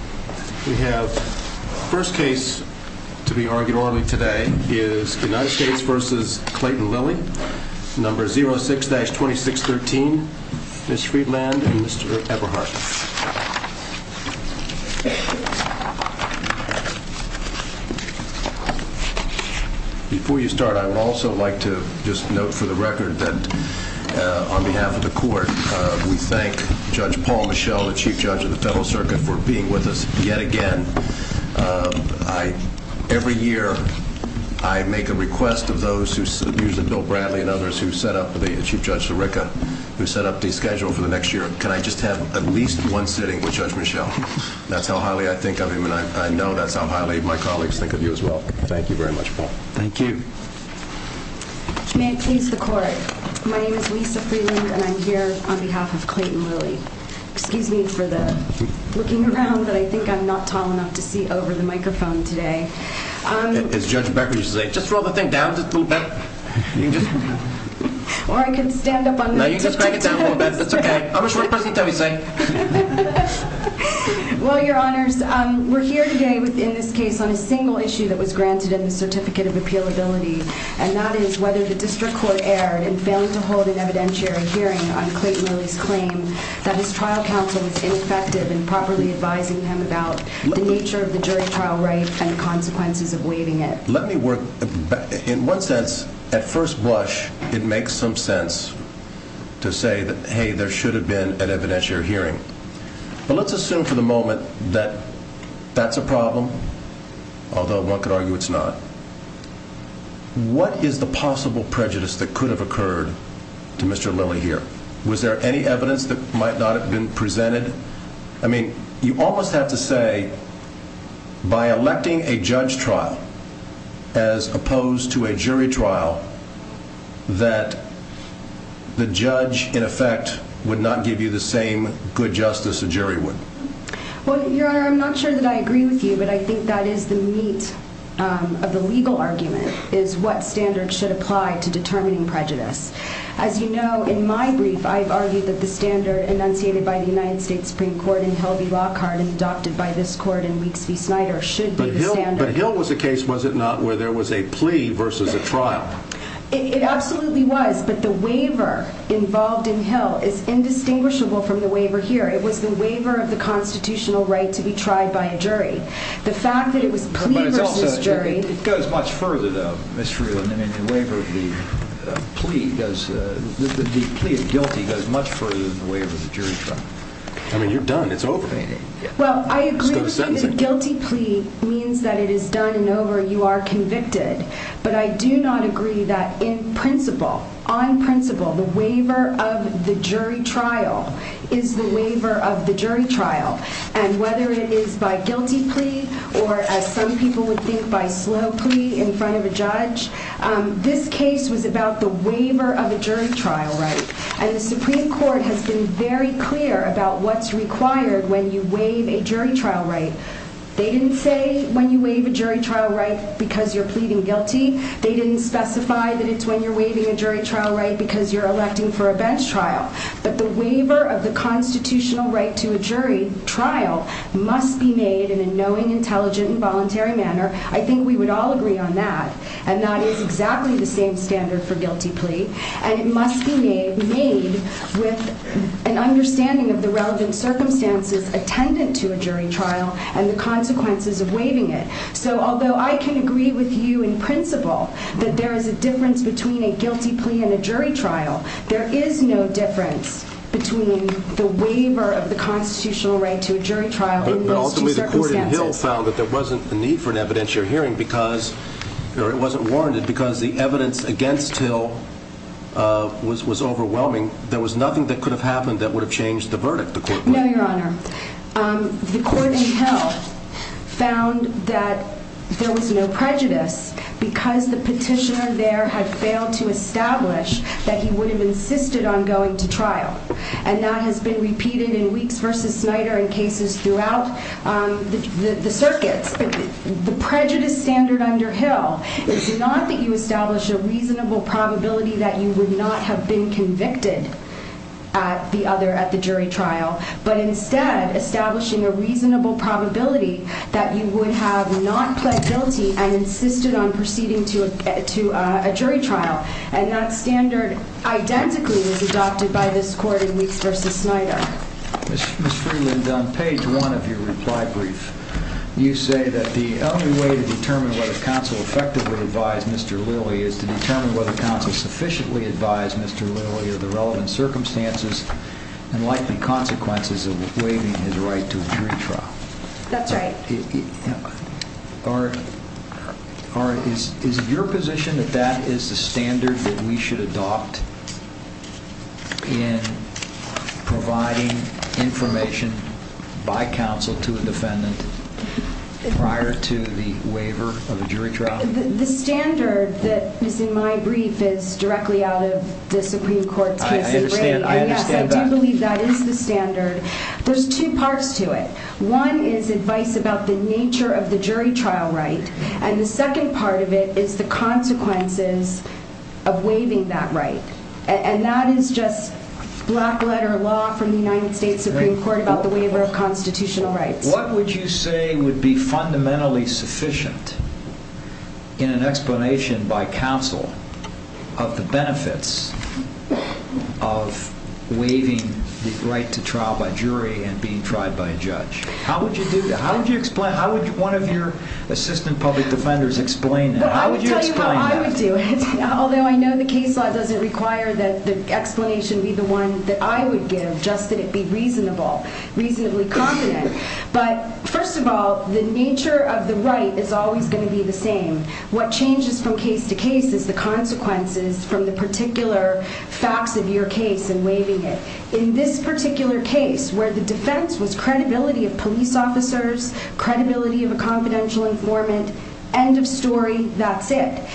06-2613, Ms. Friedland, and Mr. Eberhardt. Before you start, I would also like to just note for the record that on behalf of the yet again, every year I make a request of those, usually Bill Bradley and others, who set up the schedule for the next year. Can I just have at least one sitting with Judge Michel? That's how highly I think of him, and I know that's how highly my colleagues think of you as well. Thank you very much, Paul. Thank you. May it please the Court. My name is Lisa Friedland, and I'm here on behalf of Clayton Lilly. Excuse me for the looking around, but I think I'm not tall enough to see over the microphone today. As Judge Becker used to say, just roll the thing down just a little bit. Or I can stand up on the tiptoe. No, you can just crank it down a little bit. That's okay. I'm a short person. Tell me, say. Well, Your Honors, we're here today in this case on a single issue that was granted in the Certificate of Appealability, and that is whether the District Court erred in failing to hold an evidentiary hearing on Clayton Lilly's claim that his trial counsel was ineffective in properly advising him about the nature of the jury trial right and the consequences of waiving it. Let me work. In one sense, at first blush, it makes some sense to say that, hey, there should have been an evidentiary hearing. But let's assume for the moment that that's a problem, although one could argue it's not. What is the possible prejudice that could have occurred to Mr. Lilly here? Was there any evidence that might not have been presented? I mean, you almost have to say, by electing a judge trial as opposed to a jury trial, that the judge, in effect, would not give you the same good justice a jury would. Well, Your Honor, I'm not sure that I agree with you, but I think that is the meat of the legal argument, is what standard should apply to determining prejudice. As you know, in my brief, I've argued that the standard enunciated by the United States Supreme Court in Helbie Lockhart and adopted by this court in Weeks v. Snyder should be the standard. But Hill was a case, was it not, where there was a plea versus a trial? It absolutely was, but the waiver involved in Hill is indistinguishable from the waiver here. It was the waiver of the constitutional right to be tried by a jury. The fact that it was a plea versus a jury... But it's also... It goes much further, though, Ms. Freeland. I mean, the waiver of the plea does... The plea of guilty goes much further than the waiver of the jury trial. I mean, you're done. It's over. Well, I agree with you that a guilty plea means that it is done and over, you are convicted. But I do not agree that, in principle, on principle, the waiver of the jury trial is the waiver of the jury trial. And whether it is by guilty plea or, as some people would think, by slow plea in front of a judge, this case was about the waiver of a jury trial right. And the Supreme Court has been very clear about what's required when you waive a jury trial right. They didn't say when you waive a jury trial right because you're pleading guilty. They didn't specify that it's when you're waiving a jury trial right because you're electing for a bench trial. But the waiver of the constitutional right to a jury trial must be made in a knowing, intelligent, and voluntary manner. I think we would all agree on that. And that is exactly the same standard for guilty plea. And it must be made with an understanding of the relevant circumstances attendant to a jury trial and the consequences of waiving it. So although I can agree with you in principle that there is a difference between a guilty plea and a jury trial, there is no difference between the waiver of the constitutional right to a jury trial in those two circumstances. But ultimately, the court in Hill found that there wasn't a need for an evidentiary hearing because, or it wasn't warranted because the evidence against Hill was overwhelming. There was nothing that could have happened that would have changed the verdict, the court would have. No, Your Honor. The court in Hill found that there was no prejudice because the petitioner there had established that he would have insisted on going to trial. And that has been repeated in Weeks v. Snyder and cases throughout the circuits. The prejudice standard under Hill is not that you establish a reasonable probability that you would not have been convicted at the jury trial, but instead establishing a reasonable probability that you would have not pled guilty and insisted on proceeding to a jury trial. And that standard, identically, was adopted by this court in Weeks v. Snyder. Ms. Freeland, on page one of your reply brief, you say that the only way to determine whether counsel effectively advised Mr. Lilly is to determine whether counsel sufficiently advised Mr. Lilly of the relevant circumstances and likely consequences of waiving his right to a jury trial. That's right. Is it your position that that is the standard that we should adopt in providing information by counsel to a defendant prior to the waiver of a jury trial? The standard that is in my brief is directly out of the Supreme Court's case of rape. I understand that. Yes, I do believe that is the standard. There's two parts to it. One is advice about the nature of the jury trial right, and the second part of it is the consequences of waiving that right. And that is just black letter law from the United States Supreme Court about the waiver of constitutional rights. What would you say would be fundamentally sufficient in an explanation by counsel of the benefits of waiving the right to trial by jury and being tried by a judge? How would you do that? How would you explain? How would one of your assistant public defenders explain that? How would you explain that? I would tell you how I would do it, although I know the case law doesn't require that the explanation be the one that I would give, just that it be reasonable, reasonably confident. But first of all, the nature of the right is always going to be the same. What changes from case to case is the consequences from the particular facts of your case and waiving it. In this particular case where the defense was credibility of police officers, credibility of a confidential informant, end of story, that's it.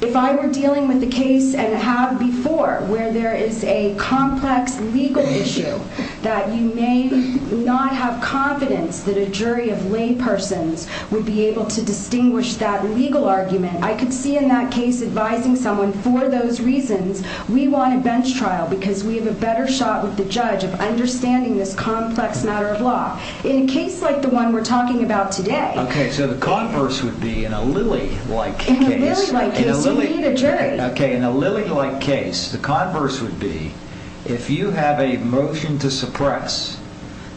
If I were dealing with a case and have before where there is a complex legal issue that you may not have confidence that a jury of laypersons would be able to distinguish that legal argument, I could see in that case advising someone for those reasons, we want a bench trial because we have a better shot with the judge of understanding this complex matter of law. In a case like the one we're talking about today... Okay, so the converse would be in a Lilly-like case... In a Lilly-like case, you need a jury. Okay, in a Lilly-like case, the converse would be if you have a motion to suppress,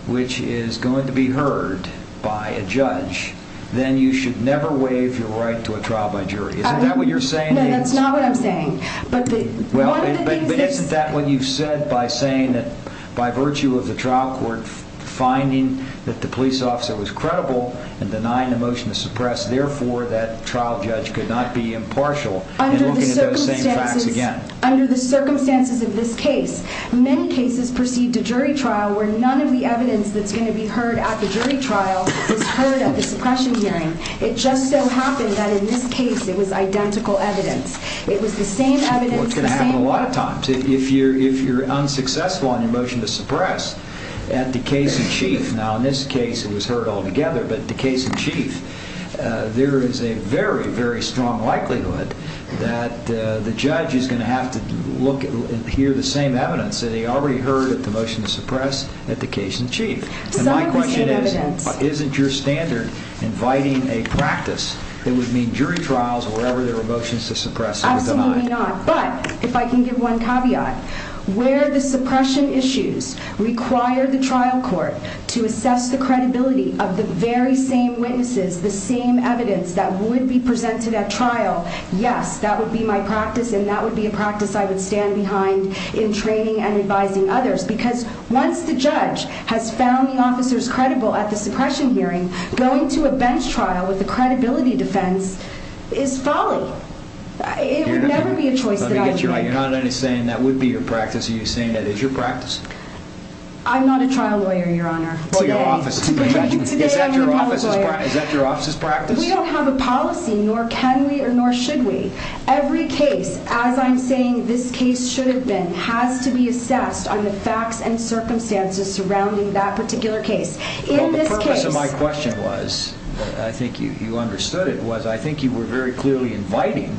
which is going to be heard by a judge, then you should never waive your right to a trial by jury. Is that what you're saying? No, that's not what I'm saying. But one of the things... But isn't that what you've said by saying that by virtue of the trial court finding that the police officer was credible and denying the motion to suppress, therefore that trial judge could not be impartial in looking at those same facts again. Under the circumstances of this case, many cases perceived a jury trial where none of the evidence that's going to be heard at the jury trial is heard at the suppression hearing. It just so happened that in this case, it was identical evidence. It was the same evidence... Well, it's going to happen a lot of times. If you're unsuccessful on your motion to suppress, at the case in chief, now in this case, it was heard all together, but the case in chief, there is a very, very strong likelihood that the judge is going to have to look and hear the same evidence that he already heard at the motion to suppress at the case in chief. Some of the same evidence. And my question is, isn't your standard inviting a practice that would mean jury trials or wherever there are motions to suppress are denied? Absolutely not. But if I can give one caveat, where the suppression issues require the trial court to assess the credibility of the very same witnesses, the same evidence that would be presented at trial, yes, that would be my practice and that would be a practice I would stand behind in training and advising others because once the judge has found the officers credible at the suppression hearing, going to a bench trial with a credibility defense is folly. It would never be a choice that I would make. Let me get you right. You're not saying that would be your practice. Are you saying that is your practice? I'm not a trial lawyer, your honor. Well, your office is. Today I'm the public lawyer. Is that your office's practice? We don't have a policy, nor can we or nor should we. Every case, as I'm saying, this case should have been has to be assessed on the facts and circumstances surrounding that particular case. In this case, my question was, I think you understood it was, I think you were very clearly inviting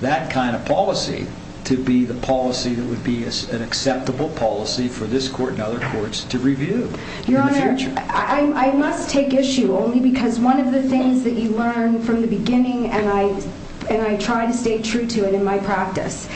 that kind of policy to be the policy that would be an acceptable policy for this court and other courts to review. Your honor, I must take issue only because one of the things that you learn from the case, and I will say true to it in my practice,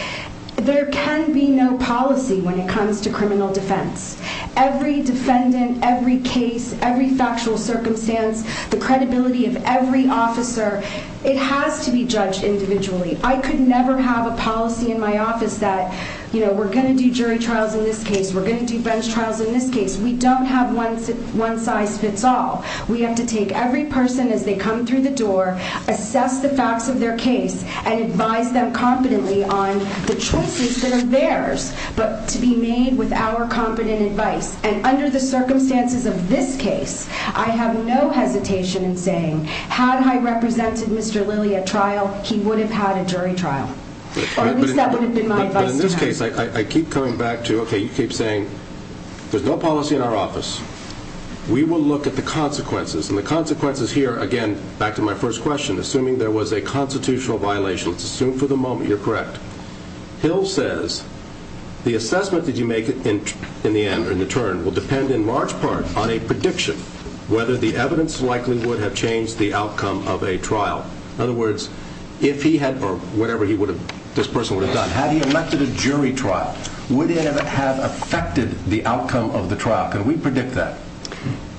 there can be no policy when it comes to criminal defense. Every defendant, every case, every factual circumstance, the credibility of every officer, it has to be judged individually. I could never have a policy in my office that, you know, we're going to do jury trials in this case. We're going to do bench trials in this case. We don't have one, one size fits all. We have to take every person as they come through the door, assess the facts of their case, and advise them competently on the choices that are theirs, but to be made with our competent advice. And under the circumstances of this case, I have no hesitation in saying, had I represented Mr. Lilly at trial, he would have had a jury trial, or at least that would have been my advice to him. But in this case, I keep coming back to, okay, you keep saying there's no policy in our office. We will look at the consequences, and the consequences here, again, back to my first question. Assuming there was a constitutional violation, let's assume for the moment you're correct. Hill says, the assessment that you make in the end, or in the turn, will depend in large part on a prediction, whether the evidence likely would have changed the outcome of a trial. In other words, if he had, or whatever this person would have done, had he elected a jury trial, would it have affected the outcome of the trial? Can we predict that?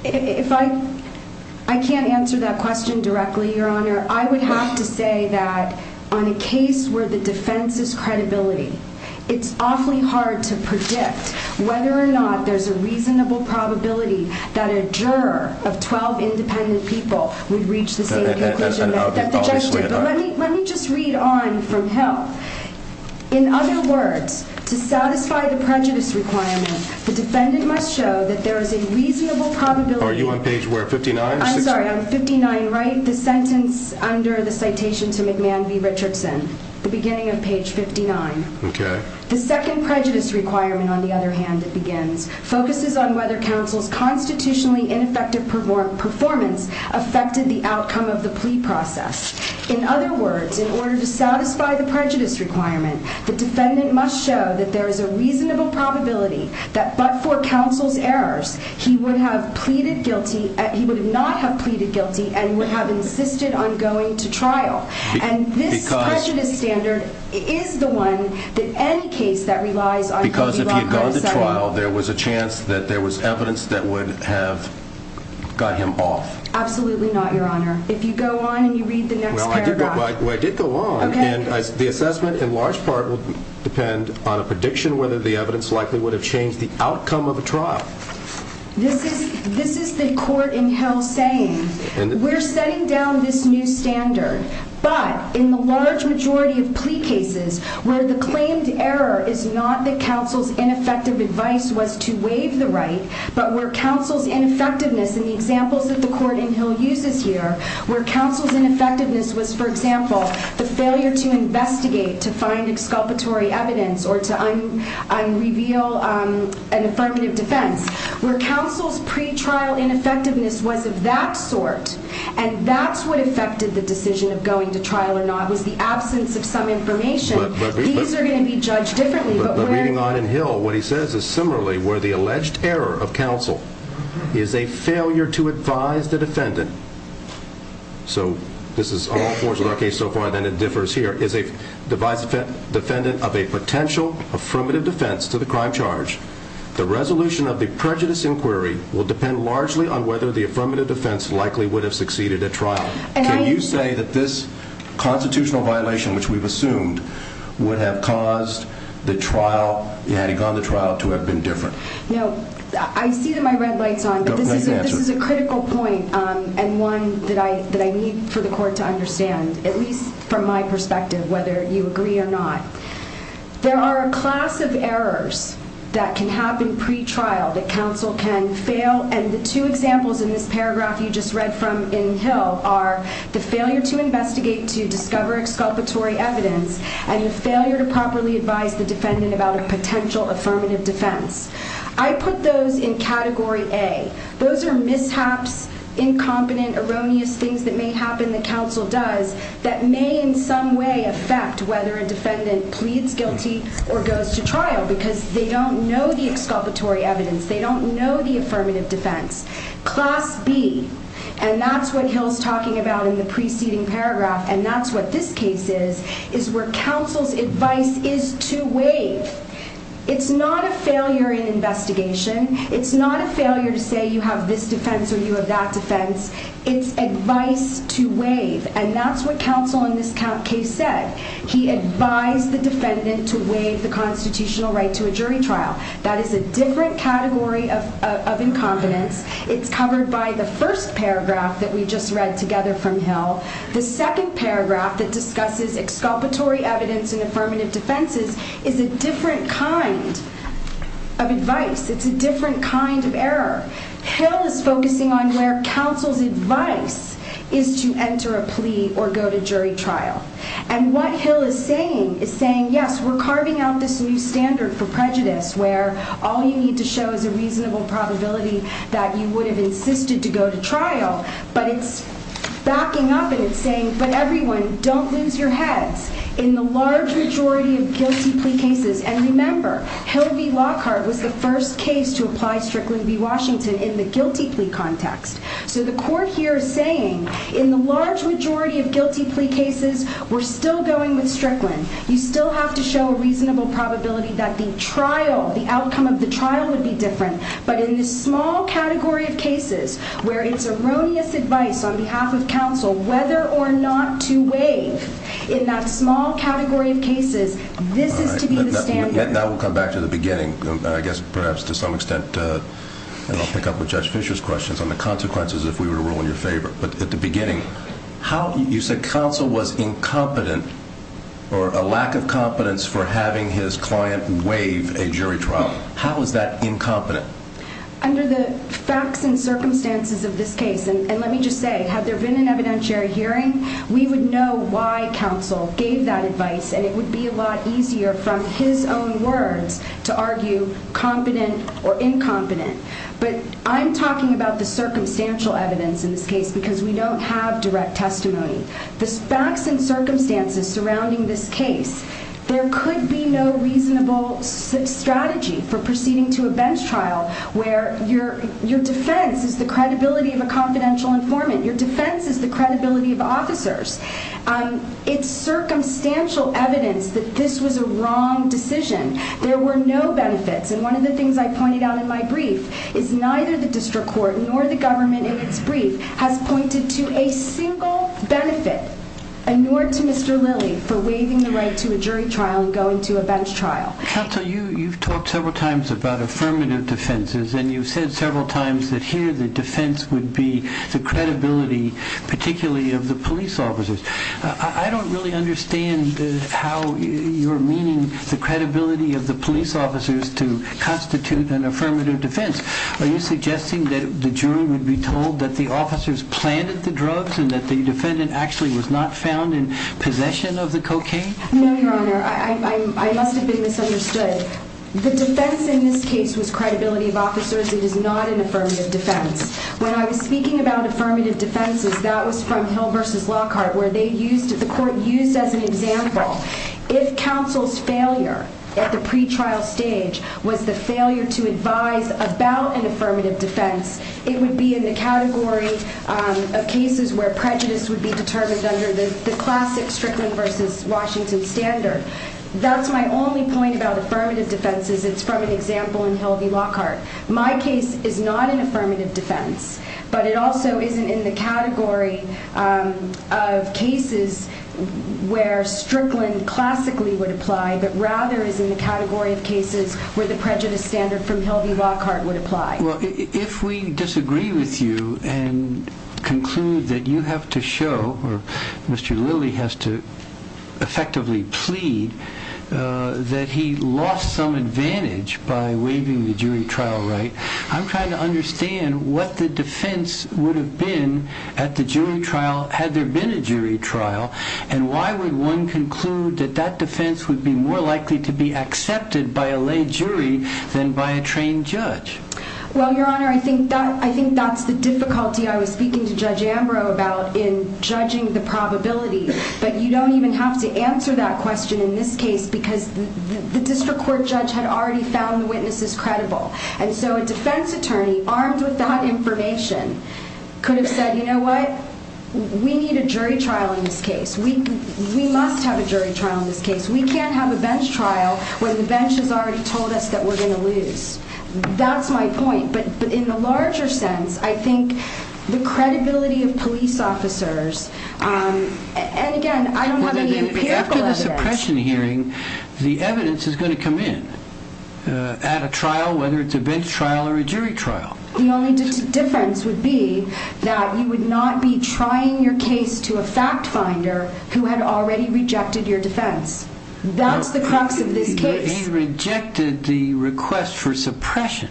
If I, I can't answer that question directly, Your Honor. I would have to say that on a case where the defense is credibility, it's awfully hard to predict whether or not there's a reasonable probability that a juror of 12 independent people would reach the same conclusion that the judge did. Let me just read on from Hill. In other words, to satisfy the prejudice requirement, the defendant must show that there is a reasonable probability... Are you on page where, 59? I'm sorry, on 59 right, the sentence under the citation to McMahon v. Richardson, the beginning of page 59. Okay. The second prejudice requirement, on the other hand, it begins, focuses on whether counsel's constitutionally ineffective performance affected the outcome of the plea process. In other words, in order to satisfy the prejudice requirement, the defendant must show that there is a reasonable probability that but for counsel's errors, he would have pleaded guilty... He would not have pleaded guilty and would have insisted on going to trial. And this prejudice standard is the one that any case that relies on... Because if he had gone to trial, there was a chance that there was evidence that would have got him off. Absolutely not, Your Honor. If you go on and you read the next paragraph... Well, I did go on. Okay. And the assessment, in large part, will depend on a prediction whether the evidence likely would have changed the outcome of a trial. This is the court in Hill saying, we're setting down this new standard, but in the large majority of plea cases where the claimed error is not that counsel's ineffective advice was to waive the right, but where counsel's ineffectiveness in the examples that the court in Hill uses here, where counsel's ineffectiveness was, for example, the failure to investigate, to find exculpatory evidence, or to unreveal an affirmative defense, where counsel's pre-trial ineffectiveness was of that sort, and that's what affected the decision of going to trial or not was the absence of some information, these are going to be judged differently, but where... But reading on in Hill, what he says is, similarly, where the alleged error of counsel is a failure to advise the defendant, so this is all fours in our case so far, then it differs here, is a defendant of a potential affirmative defense to the crime charge, the resolution of the prejudice inquiry will depend largely on whether the affirmative defense likely would have succeeded at trial. Can you say that this constitutional violation, which we've assumed, would have caused the trial, had he gone to trial, to have been different? No. I see that my red light's on, but this is a critical point, and one that I need for the court to understand, at least from my perspective, whether you agree or not. There are a class of errors that can happen pre-trial, that counsel can fail, and the two examples in this paragraph you just read from in Hill are the failure to investigate, to discover exculpatory evidence, and the failure to properly advise the defendant about a potential affirmative defense. I put those in category A. Those are mishaps, incompetent, erroneous things that may happen that counsel does that may in some way affect whether a defendant pleads guilty or goes to trial, because they don't know the exculpatory evidence, they don't know the affirmative defense. Class B, and that's what Hill's talking about in the preceding paragraph, and that's what this case is, is where counsel's advice is to waive. It's not a failure in investigation. It's not a failure to say you have this defense or you have that defense. It's advice to waive, and that's what counsel in this case said. He advised the defendant to waive the constitutional right to a jury trial. That is a different category of incompetence. It's covered by the first paragraph that we just read together from Hill. The second paragraph that discusses exculpatory evidence and affirmative defenses is a different kind of advice. It's a different kind of error. Hill is focusing on where counsel's advice is to enter a plea or go to jury trial, and what Hill is saying is saying, yes, we're carving out this new standard for prejudice where all you need to show is a reasonable probability that you would have insisted to go to trial, but it's backing up and it's saying, but everyone, don't lose your heads. In the large majority of guilty plea cases, and remember, Hill v. Lockhart was the first case to apply Strickland v. Washington in the guilty plea context, so the court here is saying, in the large majority of guilty plea cases, we're still going with Strickland. You still have to show a reasonable probability that the trial, the outcome of the trial would be different, but in the small category of cases where it's erroneous advice on behalf of counsel whether or not to waive, in that small category of cases, this is to be the standard. Now we'll come back to the beginning, I guess perhaps to some extent, and I'll pick up with Judge Fischer's questions on the consequences if we were to rule in your favor, but at the beginning, you said counsel was incompetent or a lack of competence for having his client waive a jury trial. How is that incompetent? Under the facts and circumstances of this case, and let me just say, had there been an evidentiary hearing, we would know why counsel gave that advice and it would be a lot easier from his own words to argue competent or incompetent, but I'm talking about the circumstantial evidence in this case because we don't have direct testimony. The facts and circumstances surrounding this case, there could be no reasonable strategy for proceeding to a bench trial where your defense is the credibility of a confidential informant, your defense is the credibility of officers. It's circumstantial evidence that this was a wrong decision. There were no benefits, and one of the things I pointed out in my brief is neither the district court nor the government in its brief has pointed to a single benefit, and nor to Mr. Lilly, for waiving the right to a jury trial and going to a bench trial. Counsel, you've talked several times about affirmative defenses and you've said several times that here the defense would be the credibility, particularly of the police officers. I don't really understand how you're meaning the credibility of the police officers to constitute an affirmative defense. Are you suggesting that the jury would be told that the officers planted the drugs and that the defendant actually was not found in possession of the cocaine? No, Your Honor. I must have been misunderstood. The defense in this case was credibility of officers. It is not an affirmative defense. When I was speaking about affirmative defenses, that was from Hill versus Lockhart, where the court used as an example, if counsel's failure at the pretrial stage was the failure to advise about an affirmative defense, it would be in the category of cases where prejudice would be determined under the classic Strickland versus Washington standard. That's my only point about affirmative defenses. It's from an example in Hill v. Lockhart. My case is not an affirmative defense, but it also isn't in the category of cases where Strickland classically would apply, but rather is in the category of cases where the prejudice standard from Hill v. Lockhart would apply. Well, if we disagree with you and conclude that you have to show, or Mr. Lilly has to effectively plead, that he lost some advantage by waiving the jury trial right, I'm trying to understand what the defense would have been at the jury trial had there been a jury trial, and why would one conclude that that defense would be more likely to be accepted by a lay jury than by a trained judge? Well, Your Honor, I think that's the difficulty I was speaking to Judge Ambrose about in judging the probability. But you don't even have to answer that question in this case, because the district court judge had already found the witnesses credible. And so a defense attorney armed with that information could have said, you know what, we need a jury trial in this case. We must have a jury trial in this case. We can't have a bench trial when the bench has already told us that we're going to lose. That's my point. But in the larger sense, I think the credibility of police officers, and again, I don't have any empirical evidence. After the suppression hearing, the evidence is going to come in at a trial, whether it's a bench trial or a jury trial. The only difference would be that you would not be trying your case to a fact finder who had already rejected your defense. That's the crux of this case. He rejected the request for suppression,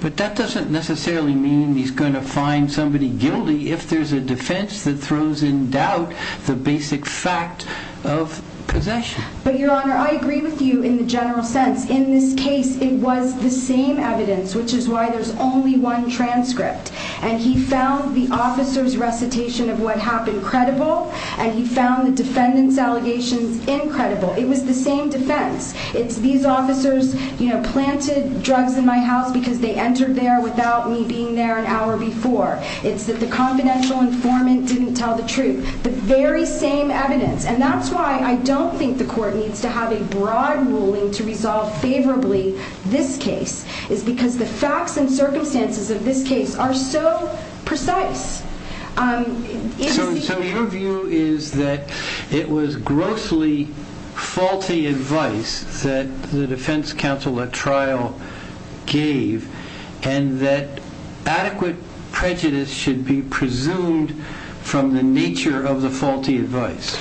but that doesn't necessarily mean he's going to find somebody guilty if there's a defense that throws in doubt the basic fact of possession. But Your Honor, I agree with you in the general sense. In this case, it was the same evidence, which is why there's only one transcript. And he found the officer's recitation of what happened credible, and he found the defendant's recitation credible. It was the same defense. It's these officers planted drugs in my house because they entered there without me being there an hour before. It's that the confidential informant didn't tell the truth. The very same evidence. And that's why I don't think the court needs to have a broad ruling to resolve favorably this case, is because the facts and circumstances of this case are so precise. So your view is that it was grossly faulty advice that the defense counsel at trial gave, and that adequate prejudice should be presumed from the nature of the faulty advice?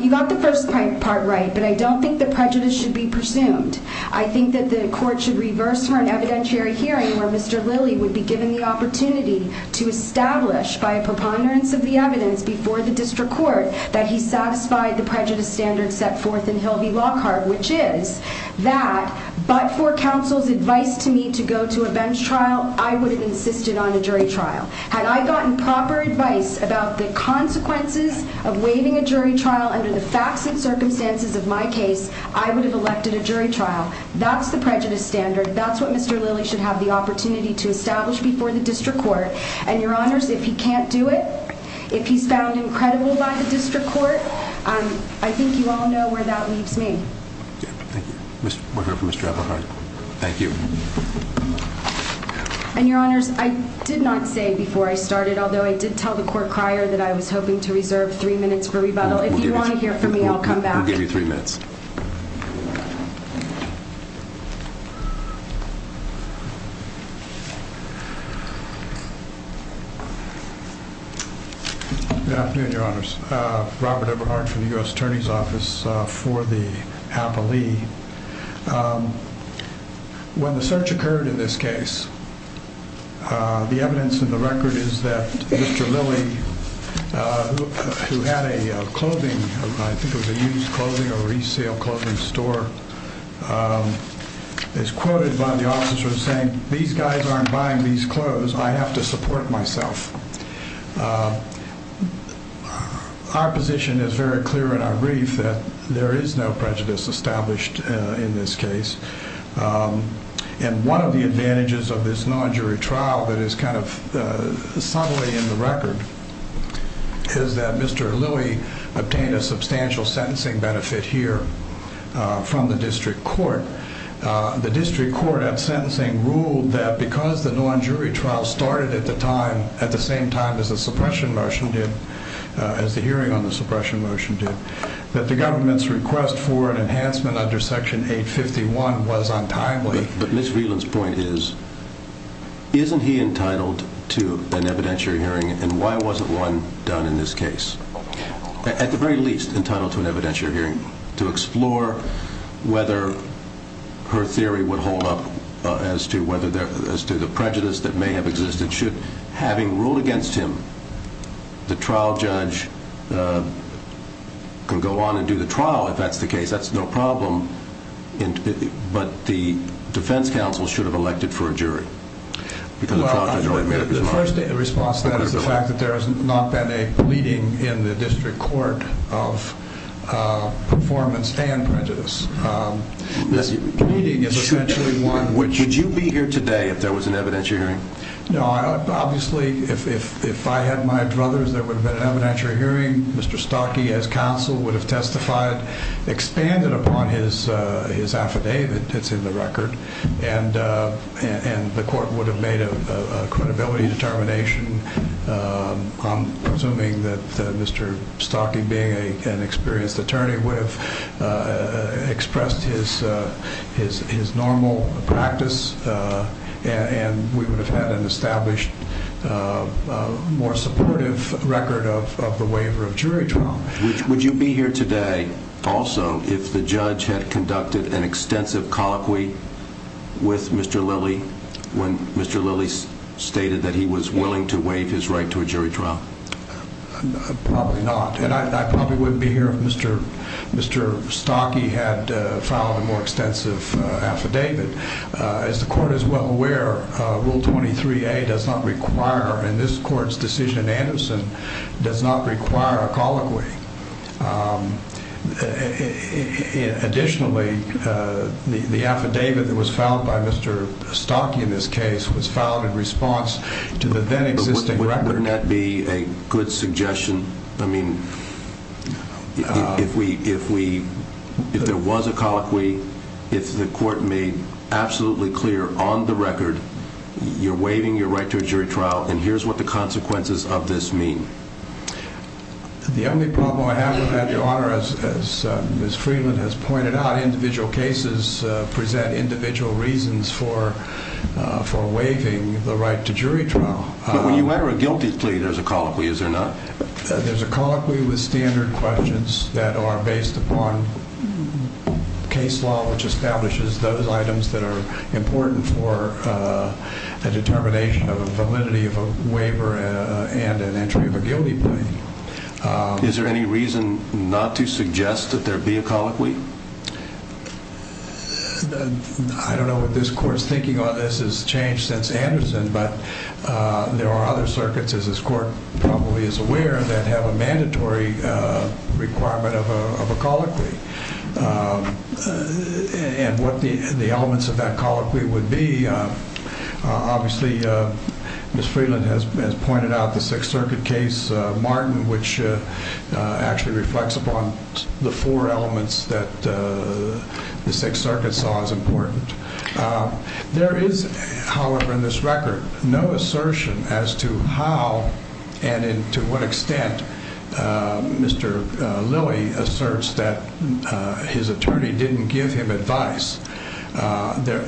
You got the first part right, but I don't think the prejudice should be presumed. I think that the court should reverse for an evidentiary hearing where Mr. Lilly would be given the opportunity to establish by a preponderance of the evidence before the district court that he satisfied the prejudice standard set forth in Hilvey Lockhart, which is that, but for counsel's advice to me to go to a bench trial, I would have insisted on a jury trial. Had I gotten proper advice about the consequences of waiving a jury trial under the facts and circumstances of my case, I would have elected a jury trial. That's the prejudice standard. That's what Mr. Lilly should have the opportunity to establish before the district court. And your honors, if he can't do it, if he's found incredible by the district court, I think you all know where that leaves me. Thank you. Mr. Lockhart, thank you. And your honors, I did not say before I started, although I did tell the court crier that I was hoping to reserve three minutes for rebuttal. If you want to hear from me, I'll come back. We'll give you three minutes. Good afternoon, your honors. Robert Everhart from the U.S. attorney's office for the appellee. When the search occurred in this case, the evidence in the record is that Mr. Lilly, who had a clothing, I think it was a used clothing or resale clothing store, um, is quoted by the officer saying these guys aren't buying these clothes. I have to support myself. Our position is very clear in our brief that there is no prejudice established in this case. And one of the advantages of this non jury trial that is kind of subtly in the record is that Mr. Lilly obtained a substantial sentencing benefit here from the district court. The district court at sentencing ruled that because the non jury trial started at the time, at the same time as the suppression motion did, as the hearing on the suppression motion did, that the government's request for an enhancement under section eight 51 was untimely. But Ms. Veland's point is, isn't he entitled to an evidentiary hearing? And why wasn't one done in this case at the very least entitled to an evidentiary hearing to explore whether her theory would hold up as to whether there, as to the prejudice that may have existed, should having ruled against him, the trial judge, uh, can go on and do the trial. If that's the case, that's no problem. But the defense counsel should have elected for a jury. The first response to that is the fact that there has not been a pleading in the district court of, uh, performance and prejudice. Um, this meeting is essentially one, which would you be here today if there was an evidentiary hearing? No, I obviously, if, if, if I had my druthers, there would have been an evidentiary hearing. Mr. Stocky as counsel would have testified, expanded upon his, uh, his affidavit. It's in the record. And, uh, and the court would have made a credibility determination. Um, I'm assuming that, uh, Mr. Stocky being a, an experienced attorney would have, uh, expressed his, uh, his, his normal practice. Uh, and we would have had an established, uh, uh, more supportive record of, of the waiver of jury trial. Which would you be here today also if the judge had conducted an extensive colloquy with Mr. Lilly when Mr. Lilly stated that he was willing to waive his right to a jury trial? Probably not. And I, I probably wouldn't be here if Mr. Mr. Stocky had, uh, filed a more extensive affidavit. Uh, as the court is well aware, uh, rule 23a does not require, in this court's decision Anderson does not require a colloquy. Um, additionally, uh, the, the affidavit that was filed by Mr. Stocky in this case was filed in response to the then existing record. Wouldn't that be a good suggestion? I mean, if we, if we, if there was a colloquy, if the court made absolutely clear on the record, you're waiving your right to a jury trial and here's what the consequences of this mean. The only problem I have with that, Your Honor, as, as Ms. Freeland has pointed out, individual cases, uh, present individual reasons for, uh, for waiving the right to jury trial. But when you enter a guilty plea, there's a colloquy, is there not? There's a colloquy with standard questions that are based upon case law, which establishes those items that are important for, uh, a determination of a validity of a waiver and an entry of a guilty plea. Is there any reason not to suggest that there be a colloquy? I don't know what this court's thinking on this has changed since Anderson, but, uh, there are other circuits as this court probably is aware of that have a mandatory, uh, requirement of a, of a colloquy. Um, and what the, the elements of that colloquy would be, uh, obviously, uh, Ms. Freeland has, has pointed out the Sixth Circuit case, uh, Martin, which, uh, uh, actually reflects upon the four elements that, uh, the Sixth Circuit saw as important. Um, there is, however, in this record, no assertion as to how and in to what extent, uh, Mr. Lilley asserts that, uh, his attorney didn't give him advice. Uh, there,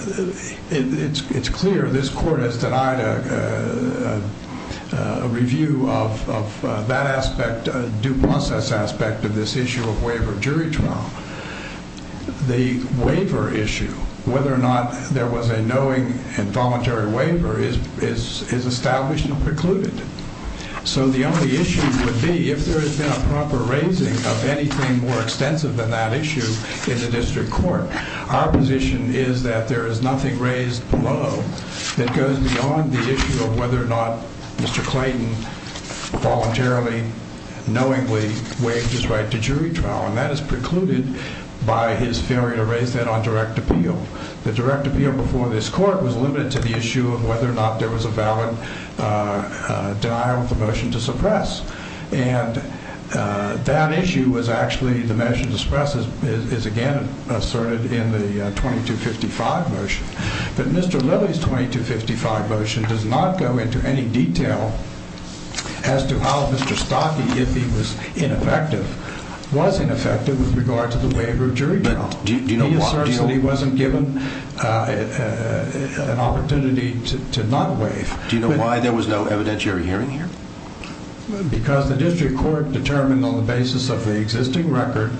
it's, it's clear this court has denied, uh, uh, uh, a review of, of, uh, that aspect, uh, due process aspect of this issue of waiver jury trial. The waiver issue, whether or not there was a knowing and voluntary waiver is, is, is established and precluded. So the only issue would be if there has been a proper raising of anything more extensive than that issue in the district court. Our position is that there is nothing raised below that goes beyond the issue of whether or not Mr. Clayton voluntarily, knowingly waived his right to jury trial. And that is precluded by his failure to raise that on direct appeal. The direct appeal before this court was limited to the issue of whether or not there was a valid, uh, uh, denial of the motion to suppress. And, uh, that issue was actually, the measure to suppress is, is, is again, asserted in the 2255 motion, but Mr. Lilley's 2255 motion does not go into any detail as to how Mr. Stocky, if he was ineffective, was ineffective with regard to the waiver of jury trial. He asserts that he wasn't given, uh, uh, an opportunity to not waive. Do you know why there was no evidentiary hearing here? Because the district court determined on the basis of the existing record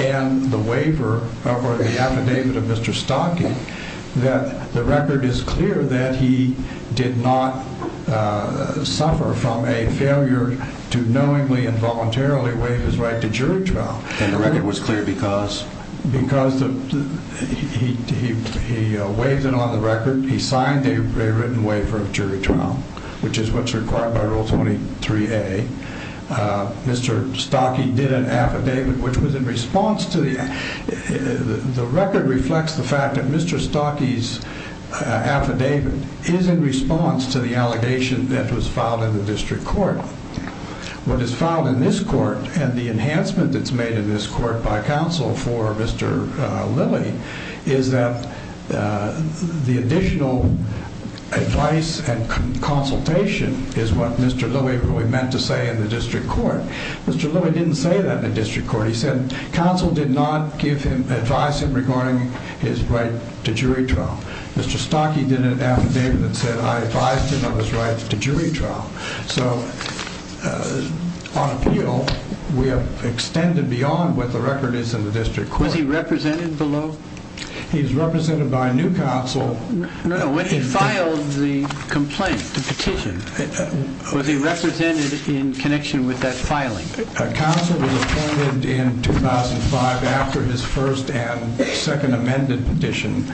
and the waiver of, or the affidavit of Mr. Stocky, that the record is clear that he did not, uh, suffer from a failure to knowingly and voluntarily waive his right to jury trial. And the record was clear because? Because he, he, he, uh, waived it on the record. He signed a written waiver of jury trial, which is what's required by rule 23A. Uh, Mr. Stocky did an affidavit, which was in response to the, the record reflects the fact that Mr. Stocky's, uh, affidavit is in response to the allegation that was filed in the district court. What is filed in this court and the enhancement that's made in this court by counsel for Mr. Lilley is that, uh, the additional advice and consultation is what Mr. Lilley really meant to say in the district court. Mr. Lilley didn't say that in the district court. He said counsel did not give him, advise him regarding his right to jury trial. Mr. Stocky did an affidavit that said I advised him of his right to jury trial. So, uh, on appeal, we have extended beyond what the record is in the district court. Was he represented below? He's represented by a new counsel. No, no. When he filed the complaint, the petition, was he represented in connection with that filing? Counsel was appointed in 2005 after his first and second amended petition.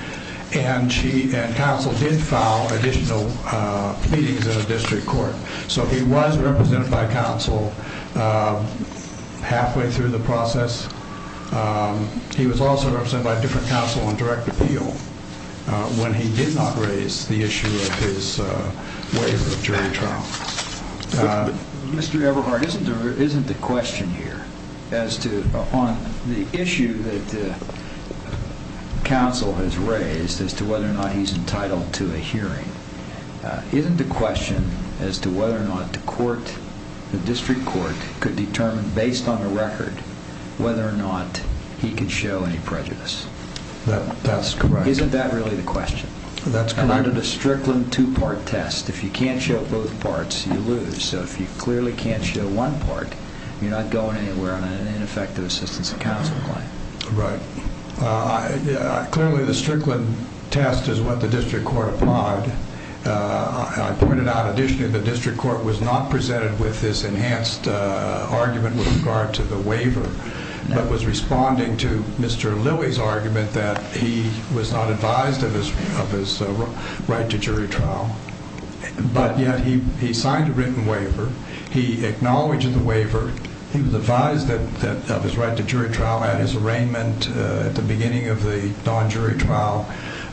And she, and counsel did file additional, uh, pleadings in the district court. So he was represented by counsel, uh, halfway through the process. Um, he was also represented by a different counsel on direct appeal, uh, when he did not raise the issue of his, uh, waiver of jury trial. Uh, Mr. Everhart, isn't there, isn't the question here as to upon the issue that the counsel has raised as to whether or not he's entitled to a hearing, uh, isn't the question as to whether or not the court, the district court could determine based on the record, whether or not he could show any prejudice? That, that's correct. Isn't that really the question? That's correct. And under the Strickland two-part test, if you can't show both parts, you lose. So if you clearly can't show one part, you're not going anywhere on an ineffective assistance of counsel claim. Right. Uh, I, uh, clearly the Strickland test is what the district court applied. Uh, I pointed out additionally, the district court was not presented with this enhanced, uh, argument with regard to the waiver, but was responding to Mr. Lilly's argument that he was not advised of his, of his, uh, right to jury trial. But yet he, he signed a written waiver. He acknowledged the waiver. He was advised that, that of his right to jury trial at his arraignment, uh, at the beginning of the non-jury trial.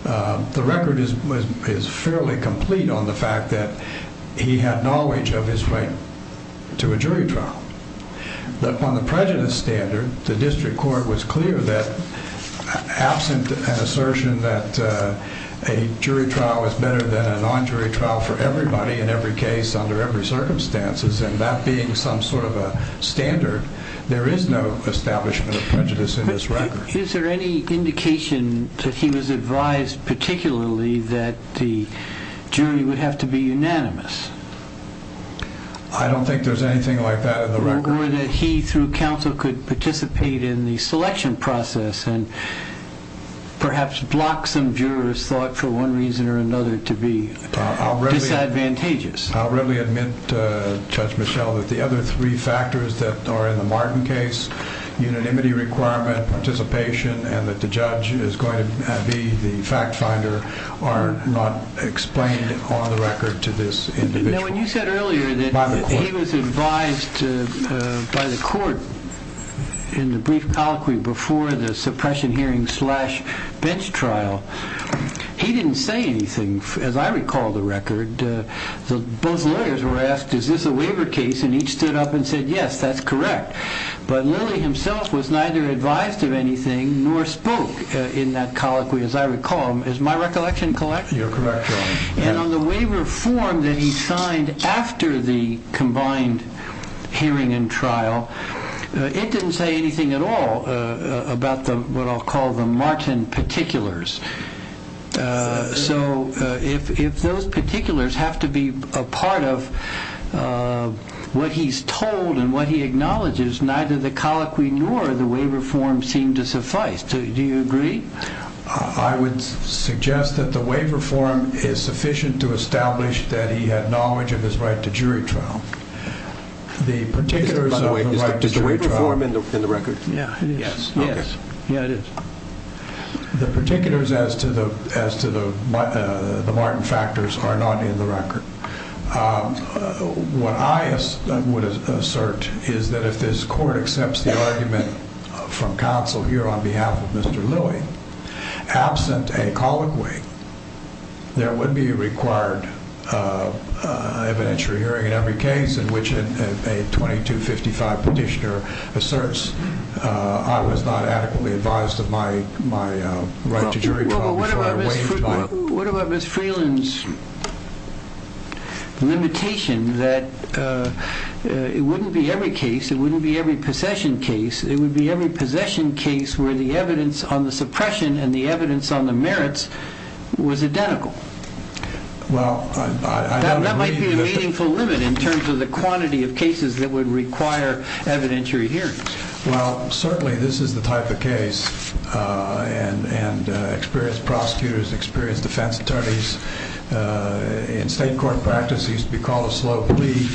Uh, the record is, was, is fairly complete on the fact that he had knowledge of his right to a jury trial, but upon the prejudice standard, the district court was clear that absent an assertion that, uh, a jury trial is better than a non-jury trial for everybody in every case under every circumstances. And that being some sort of a standard, there is no establishment of prejudice in this record. Is there any indication that he was advised particularly that the jury would have to be unanimous? I don't think there's anything like that in the record. Or that he through counsel could participate in the selection process and perhaps block some jurors thought for one reason or another to be disadvantageous. I'll readily admit, uh, Judge Michel, that the other three factors that are in the Martin case, unanimity requirement, participation, and that the judge is going to be the fact finder are not explained on the record to this individual. Now, when you said earlier that he was advised to, uh, by the court in the brief colloquy before the suppression hearing slash bench trial, he didn't say anything. As I recall the record, uh, the, both lawyers were asked, is this a waiver case? And each stood up and said, yes, that's correct. But Lilly himself was neither advised of anything nor spoke in that colloquy. As I recall, is my recollection correct? You're correct. And on the waiver form that he signed after the combined hearing and trial, it didn't say anything at all about the, what I'll call the Martin particulars. Uh, so, uh, if, if those particulars have to be a part of, uh, what he's told and what he acknowledges, neither the colloquy nor the waiver form seem to suffice. Do you agree? Uh, I would suggest that the waiver form is sufficient to establish that he had knowledge of his right to jury trial. The particulars of the right to jury trial... By the way, is the waiver form in the record? Yeah, it is. Yes. Yeah, it is. The particulars as to the, as to the, uh, the Martin factors are not in the record. Um, what I would assert is that if this court accepts the argument from counsel here on behalf of Mr. Lilly, absent a colloquy, there would be required, uh, uh, evidentiary hearing in every case in which a 2255 petitioner asserts, uh, I was not adequately advised of my, my, uh, right to jury trial before I waived my... What about Ms. Freeland's limitation that, uh, uh, it wouldn't be every case. It wouldn't be every possession case. It would be every possession case where the evidence on the suppression and the evidence on the merits was identical. Well, I, I... That might be a meaningful limit in terms of the quantity of cases that would require evidentiary hearings. Well, certainly this is the type of case, uh, and, and, uh, experienced prosecutors, experienced defense attorneys, uh, in state court practice used to be called a slow plea.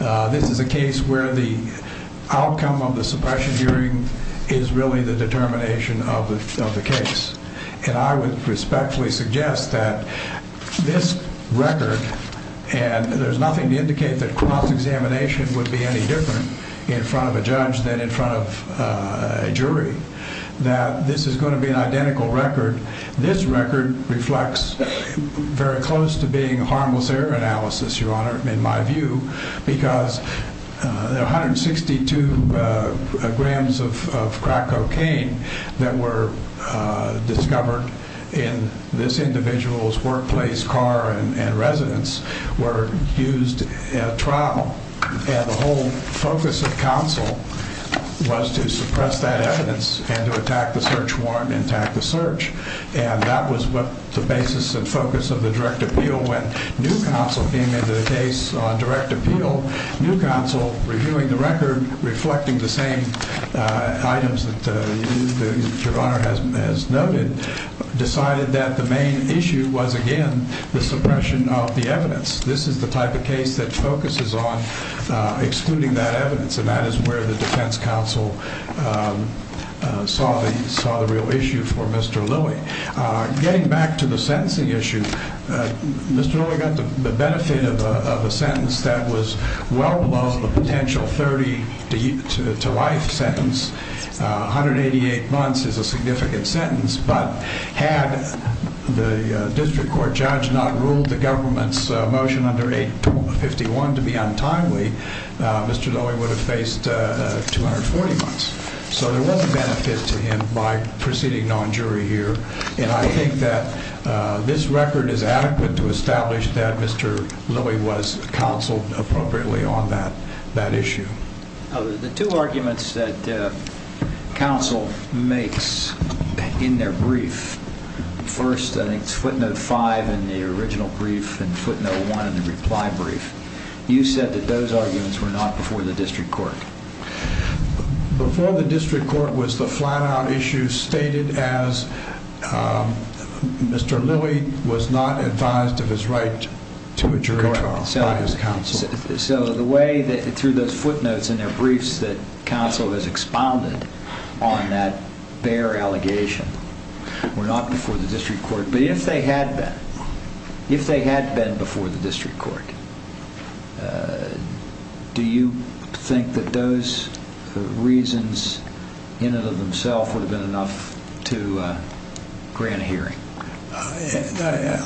Uh, this is a case where the outcome of the suppression hearing is really the determination of the, of the case. And I would respectfully suggest that this record, and there's nothing to indicate that the cross-examination would be any different in front of a judge than in front of a jury, that this is going to be an identical record. This record reflects very close to being a harmless error analysis, Your Honor, in my view, because, uh, 162, uh, grams of, of crack cocaine that were, uh, discovered in this And the whole focus of counsel was to suppress that evidence and to attack the search warrant and attack the search. And that was what the basis and focus of the direct appeal when new counsel came into the case on direct appeal, new counsel reviewing the record, reflecting the same, uh, items that, uh, Your Honor has, has noted, decided that the main issue was again, the suppression of the evidence. This is the type of case that focuses on, uh, excluding that evidence. And that is where the defense counsel, um, uh, saw the, saw the real issue for Mr. Lilly. Uh, getting back to the sentencing issue, uh, Mr. Lilly got the benefit of a, of a sentence that was well below the potential 30 to life sentence, uh, 188 months is a significant sentence, but had the, uh, district court judge not ruled the government's, uh, motion under 851 to be untimely, uh, Mr. Lilly would have faced, uh, uh, 240 months. So there was a benefit to him by proceeding non-jury here. And I think that, uh, this record is adequate to establish that Mr. Lilly was counseled appropriately on that, that issue. The two arguments that, uh, counsel makes in their brief, first, I think it's footnote five in the original brief and footnote one in the reply brief. You said that those arguments were not before the district court. Before the district court was the flat out issue stated as, um, Mr. Lilly was not advised of his right to a jury trial by his counsel. So the way that through those footnotes in their briefs that counsel has expounded on that bare allegation were not before the district court, but if they had been, if they had been before the district court, uh, do you think that those reasons in and of themselves would have been enough to, uh, grant a hearing? Uh,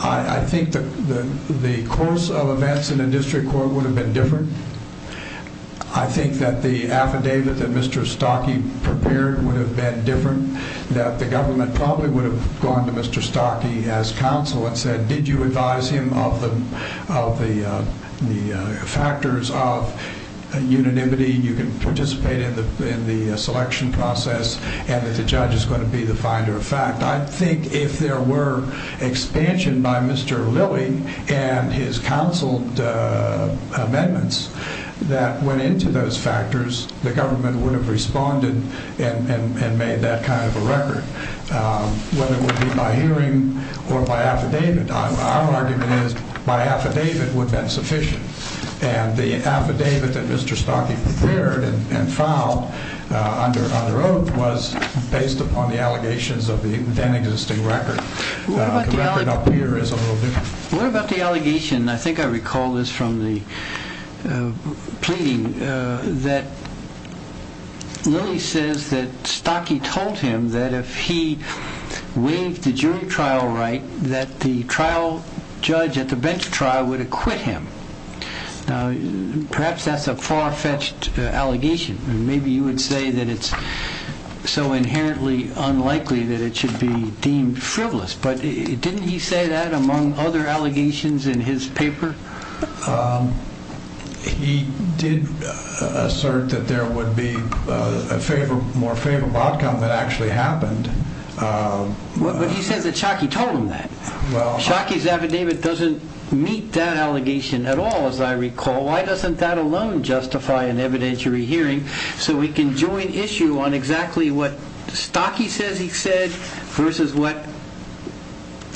I, I think that the, the course of events in the district court would have been different. I think that the affidavit that Mr. Stockey prepared would have been different, that the government probably would have gone to Mr. Stockey as counsel and said, did you advise him of the, of the, uh, the, uh, factors of unanimity? You can participate in the, in the selection process and that the judge is going to be the finder of fact. I think if there were expansion by Mr. Lilly and his counsel, uh, amendments that went into those factors, the government would have responded and, and, and made that kind of a record, um, whether it would be by hearing or by affidavit. Our argument is by affidavit would have been sufficient. And the affidavit that Mr. Stockey prepared and filed, uh, under, under oath was based on the allegations of the then existing record. Uh, the record up here is a little different. What about the allegation, I think I recall this from the, uh, pleading, uh, that Lilly says that Stockey told him that if he waived the jury trial right, that the trial judge at the bench trial would acquit him. Now, perhaps that's a far-fetched, uh, allegation and maybe you would say that it's so inherently unlikely that it should be deemed frivolous, but didn't he say that among other allegations in his paper? Um, he did assert that there would be a favor, more favorable outcome that actually happened. Um, but he says that Stockey told him that. Well, Stockey's affidavit doesn't meet that allegation at all, as I recall. Why doesn't that alone justify an evidentiary hearing? So we can join issue on exactly what Stockey says he said versus what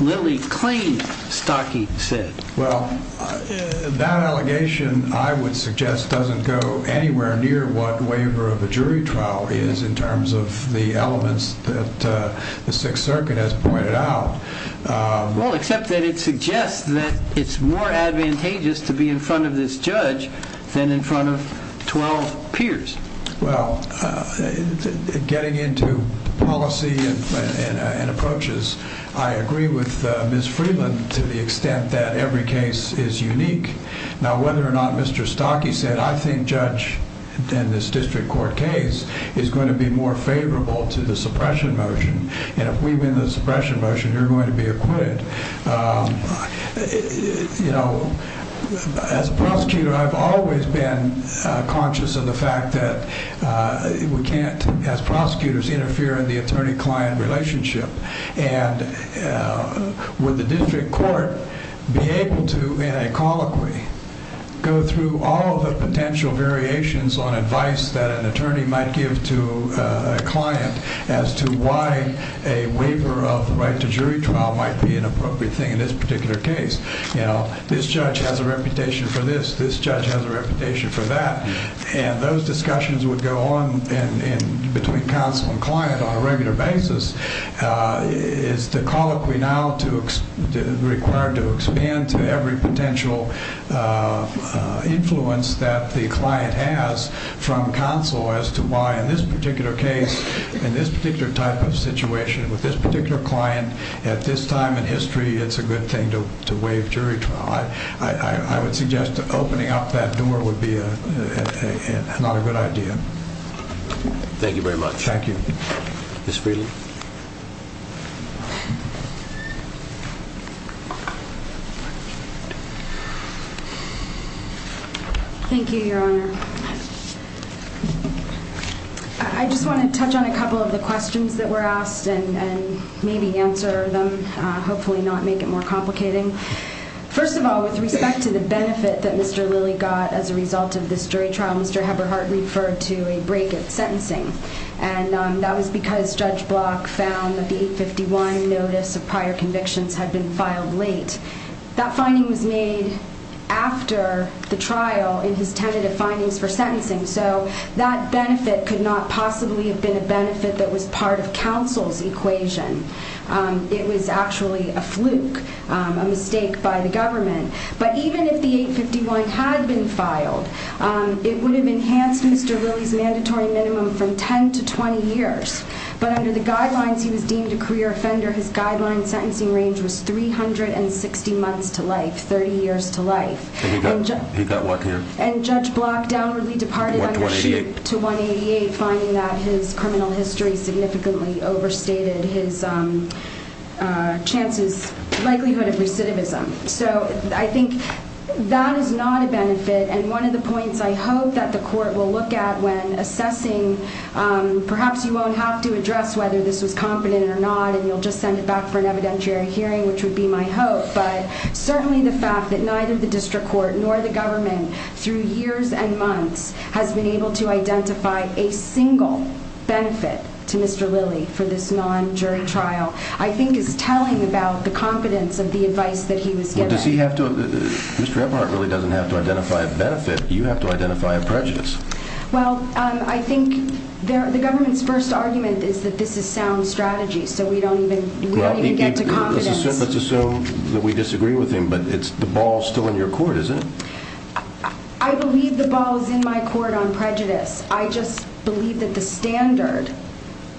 Lilly claimed Stockey said. Well, that allegation I would suggest doesn't go anywhere near what waiver of a jury trial is in terms of the elements that, uh, the Sixth Circuit has pointed out. Well, except that it suggests that it's more advantageous to be in front of this judge than in front of 12 peers. Well, uh, getting into policy and, uh, and approaches, I agree with, uh, Ms. Friedland to the extent that every case is unique. Now, whether or not Mr. Stockey said, I think judge in this district court case is going to be more favorable to the suppression motion. And if we win the suppression motion, you're going to be acquitted. Um, you know, as a prosecutor, I've always been conscious of the fact that, uh, we can't as prosecutors interfere in the attorney client relationship. And, uh, would the district court be able to, in a colloquy, go through all the potential variations on advice that an attorney might give to a client as to why a waiver of the jury trial might be an appropriate thing in this particular case. You know, this judge has a reputation for this. This judge has a reputation for that. And those discussions would go on and, and between counsel and client on a regular basis, uh, is the colloquy now to, required to expand to every potential, uh, influence that the client has from counsel as to why in this particular case, in this particular type of situation, with this particular client at this time in history, it's a good thing to, to waive jury trial. I, I, I would suggest opening up that door would be a, a, a, not a good idea. Thank you very much. Thank you. Thank you, your honor. Um, I, I just want to touch on a couple of the questions that were asked and, and maybe answer them, uh, hopefully not make it more complicating. First of all, with respect to the benefit that Mr. Lilly got as a result of this jury trial, Mr. Heberhart referred to a break at sentencing. And, um, that was because Judge Block found that the 851 notice of prior convictions had been filed late. That finding was made after the trial in his tentative findings for sentencing. So that benefit could not possibly have been a benefit that was part of counsel's equation. Um, it was actually a fluke, um, a mistake by the government. But even if the 851 had been filed, um, it would have enhanced Mr. Lilly's mandatory minimum from 10 to 20 years. But under the guidelines, he was deemed a career offender. His guideline sentencing range was 360 months to life, 30 years to life. And he got, he got what here? And Judge Block downwardly departed under sheet to 188, finding that his criminal history significantly overstated his, um, uh, chances, likelihood of recidivism. So I think that is not a benefit. And one of the points I hope that the court will look at when assessing, um, perhaps you don't have to address whether this was competent or not, and you'll just send it back for an evidentiary hearing, which would be my hope. But certainly the fact that neither the district court nor the government through years and months has been able to identify a single benefit to Mr. Lilly for this non-jury trial, I think is telling about the competence of the advice that he was given. Well, does he have to, Mr. Eberhardt really doesn't have to identify a benefit. You have to identify a prejudice. Well, um, I think the government's first argument is that this is sound strategy. So we don't even, we don't even get to confidence. Let's assume that we disagree with him, but it's the ball still in your court, isn't it? I believe the ball is in my court on prejudice. I just believe that the standard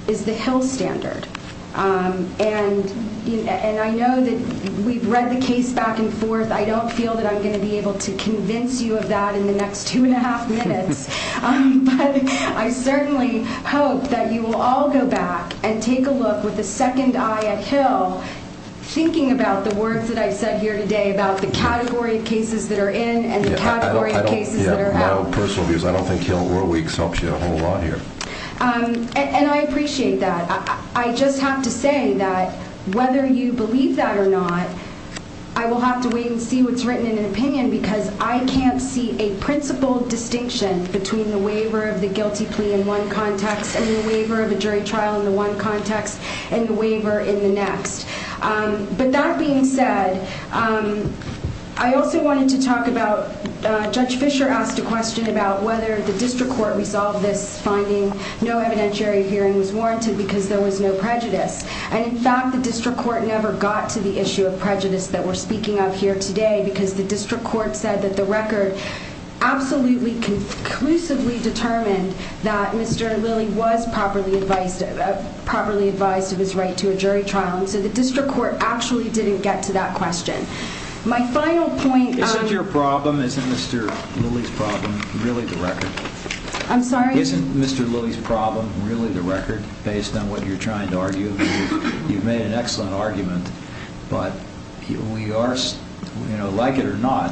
is the Hill standard. Um, and, and I know that we've read the case back and forth. I don't feel that I'm going to be able to convince you of that in the next two and a half minutes. Um, but I certainly hope that you will all go back and take a look with a second eye at Hill, thinking about the words that I've said here today about the category of cases that are in and the category of cases that are out. Yeah, my own personal views. I don't think Hill or Weeks helps you a whole lot here. Um, and I appreciate that. I just have to say that whether you believe that or not, I will have to wait and see what's between the waiver of the guilty plea in one context and the waiver of a jury trial in the one context and the waiver in the next. Um, but that being said, um, I also wanted to talk about, uh, Judge Fisher asked a question about whether the district court resolved this finding. No evidentiary hearing was warranted because there was no prejudice. And in fact, the district court never got to the issue of prejudice that we're speaking of here today because the district court said that the record absolutely conclusively determined that Mr. Lilly was properly advised, properly advised of his right to a jury trial. And so the district court actually didn't get to that question. My final point. Isn't your problem, isn't Mr. Lilly's problem really the record? I'm sorry. Isn't Mr. Lilly's problem really the record based on what you're trying to argue? You've made an excellent argument, but we are, you know, like it or not,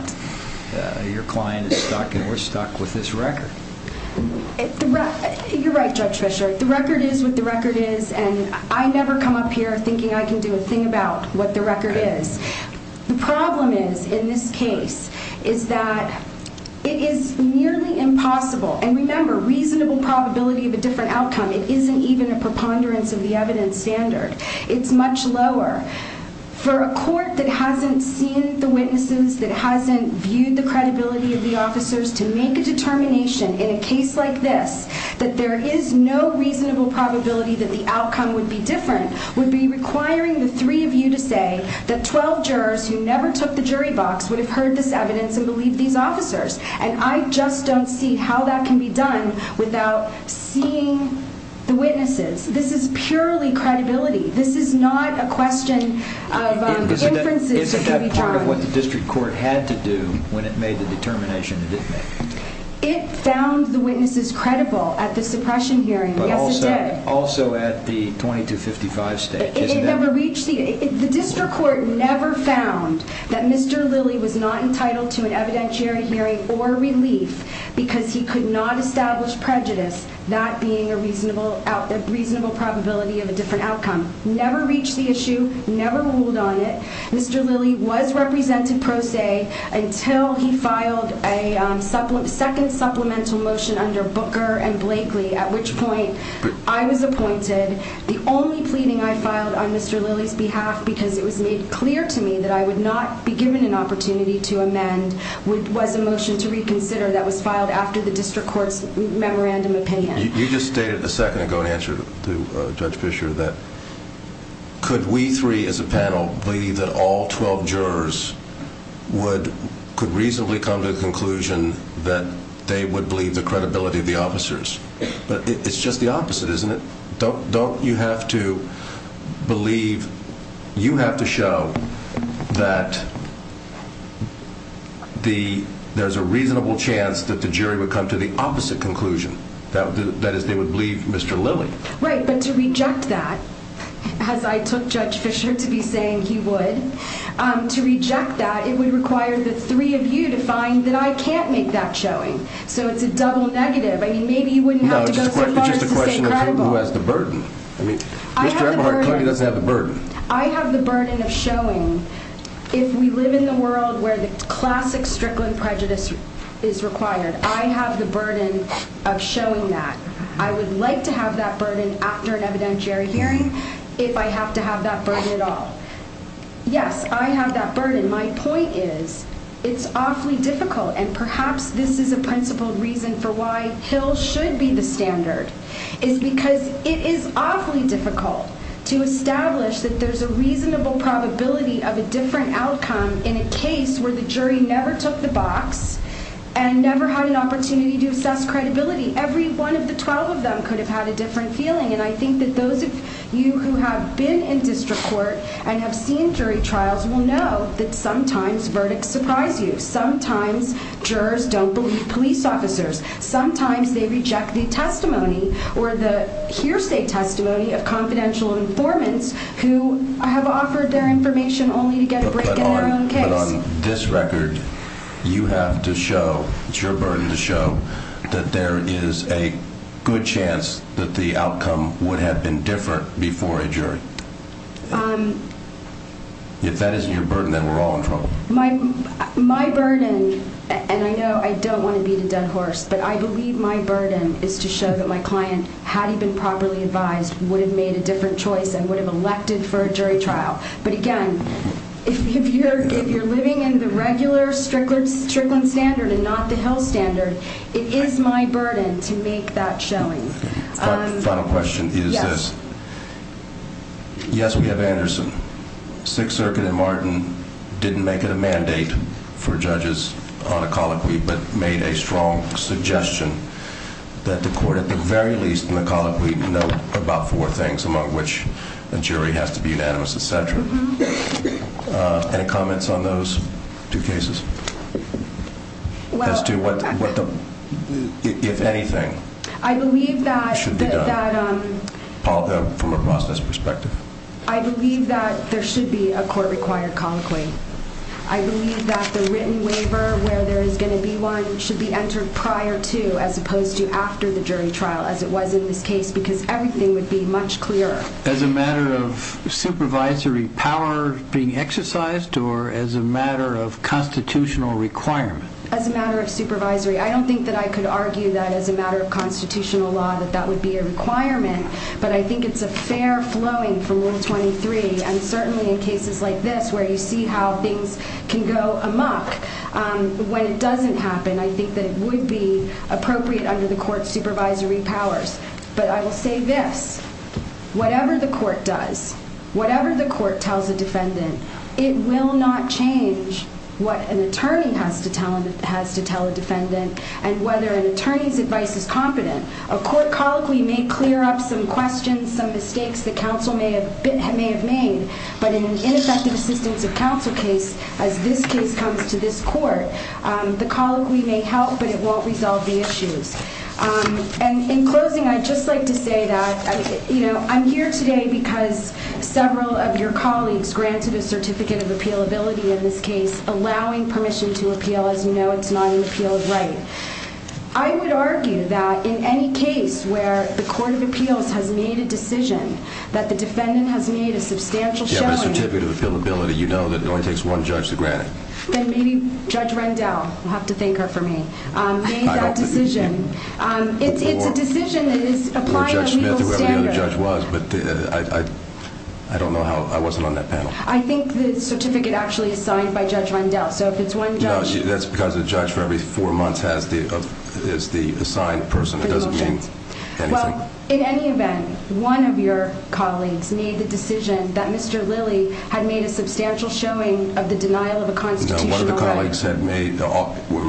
your client is stuck and we're stuck with this record. You're right, Judge Fisher. The record is what the record is. And I never come up here thinking I can do a thing about what the record is. The problem is, in this case, is that it is nearly impossible. And remember, reasonable probability of a different outcome. It isn't even a preponderance of the evidence standard. It's much lower for a court that hasn't seen the witnesses, that hasn't viewed the credibility of the officers to make a determination in a case like this, that there is no reasonable probability that the outcome would be different, would be requiring the three of you to say that 12 jurors who never took the jury box would have heard this evidence and believe these officers. And I just don't see how that can be done without seeing the witnesses. This is purely credibility. This is not a question of inferences that can be drawn. Isn't that part of what the district court had to do when it made the determination that it made? It found the witnesses credible at the suppression hearing. Yes, it did. Also at the 2255 stage. It never reached the, the district court never found that Mr. Lilly was not entitled to an amendment or relief because he could not establish prejudice. That being a reasonable, reasonable probability of a different outcome. Never reached the issue. Never ruled on it. Mr. Lilly was represented pro se until he filed a second supplemental motion under Booker and Blakely, at which point I was appointed. The only pleading I filed on Mr. Lilly's behalf, because it was made clear to me that I would not be given an opportunity to amend, was a motion to reconsider that was filed after the district court's memorandum opinion. You just stated a second ago, in answer to Judge Fisher, that could we three as a panel believe that all 12 jurors would, could reasonably come to the conclusion that they would believe the credibility of the officers. But it's just the opposite, isn't it? Don't you have to believe, you have to show that the, there's a reasonable chance that the jury would come to the opposite conclusion. That is, they would believe Mr. Lilly. Right. But to reject that, as I took Judge Fisher to be saying he would, to reject that, it would require the three of you to find that I can't make that showing. So it's a double negative. I mean, maybe you wouldn't have to go so far as to stay credible. Who has the burden? I mean, Mr. Eberhardt clearly doesn't have the burden. I have the burden of showing, if we live in the world where the classic Strickland prejudice is required, I have the burden of showing that. I would like to have that burden after an evidentiary hearing, if I have to have that burden at all. Yes, I have that burden. My point is, it's awfully difficult. And perhaps this is a principled reason for why Hill should be the standard, is because it is awfully difficult to establish that there's a reasonable probability of a different outcome in a case where the jury never took the box and never had an opportunity to assess credibility. Every one of the 12 of them could have had a different feeling. And I think that those of you who have been in district court and have seen jury trials will know that sometimes verdicts surprise you. Sometimes jurors don't believe police officers. Sometimes they reject the testimony or the hearsay testimony of confidential informants who have offered their information only to get a break in their own case. But on this record, you have to show, it's your burden to show, that there is a good chance that the outcome would have been different before a jury. If that isn't your burden, then we're all in trouble. My burden, and I know I don't want to beat a dead horse, but I believe my burden is to show that my client, had he been properly advised, would have made a different choice and would have elected for a jury trial. But again, if you're living in the regular Strickland standard and not the Hill standard, it is my burden to make that showing. Final question is this. Yes, we have Anderson. Sixth Circuit and Martin didn't make it a mandate for judges on a colloquy, but made a strong suggestion that the court, at the very least in the colloquy, note about four things, among which a jury has to be unanimous, et cetera. Any comments on those two cases? As to what the, if anything. I believe that- It should be done, from a process perspective. I believe that there should be a court-required colloquy. I believe that the written waiver, where there is going to be one, should be entered prior to, as opposed to after the jury trial, as it was in this case, because everything would be much clearer. As a matter of supervisory power being exercised, or as a matter of constitutional requirement? As a matter of supervisory. I don't think that I could argue that, as a matter of constitutional law, that that would be a requirement, but I think it's a fair flowing from Rule 23, and certainly in cases like this, where you see how things can go amok. When it doesn't happen, I think that it would be appropriate under the court's supervisory powers. But I will say this. Whatever the court does, whatever the court tells a defendant, it will not change what an attorney has to tell a defendant, and whether an attorney's advice is competent. A court colloquy may clear up some questions, some mistakes that counsel may have made, but in an ineffective assistance of counsel case, as this case comes to this court, the colloquy may help, but it won't resolve the issues. And in closing, I'd just like to say that I'm here today because several of your colleagues granted a Certificate of Appealability in this case, allowing permission to appeal. As you know, it's not an appealed right. I would argue that in any case where the Court of Appeals has made a decision, that the defendant has made a substantial showing. You have a Certificate of Appealability. You know that it only takes one judge to grant it. Then maybe Judge Rendell, you'll have to thank her for me, made that decision. It's a decision that is applying a legal standard. Or Judge Smith, or whoever the other judge was. I don't know how... I wasn't on that panel. I think the certificate actually is signed by Judge Rendell. So if it's one judge... No, that's because a judge for every four months is the assigned person. It doesn't mean anything. Well, in any event, one of your colleagues made the decision that Mr. Lilly had made a substantial showing of the denial of a constitutional right. No, one of the colleagues had made...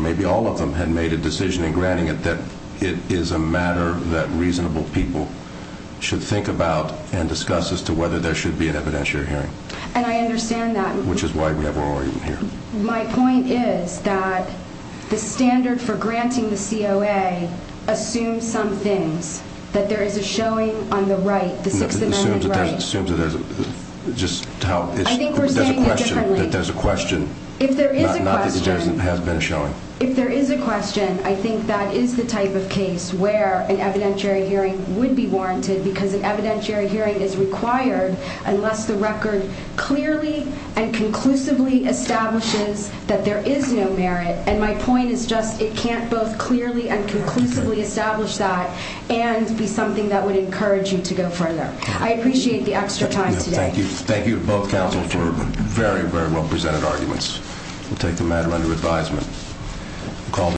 Maybe all of them had made a decision in granting it that it is a matter that reasonable people should think about and discuss as to whether there should be an evidentiary hearing. And I understand that. Which is why we have our argument here. My point is that the standard for granting the COA assumes some things. That there is a showing on the right, the Sixth Amendment right. Assumes that there's a... Just how... I think we're saying it differently. That there's a question. If there is a question... Not that there has been a showing. If there is a question, I think that is the type of case where an evidentiary hearing would be warranted. Because an evidentiary hearing is required unless the record clearly and conclusively establishes that there is no merit. And my point is just, it can't both clearly and conclusively establish that and be something that would encourage you to go further. I appreciate the extra time today. Thank you. Thank you to both counsel for very, very well presented arguments. We'll take the matter under advisement. Call the...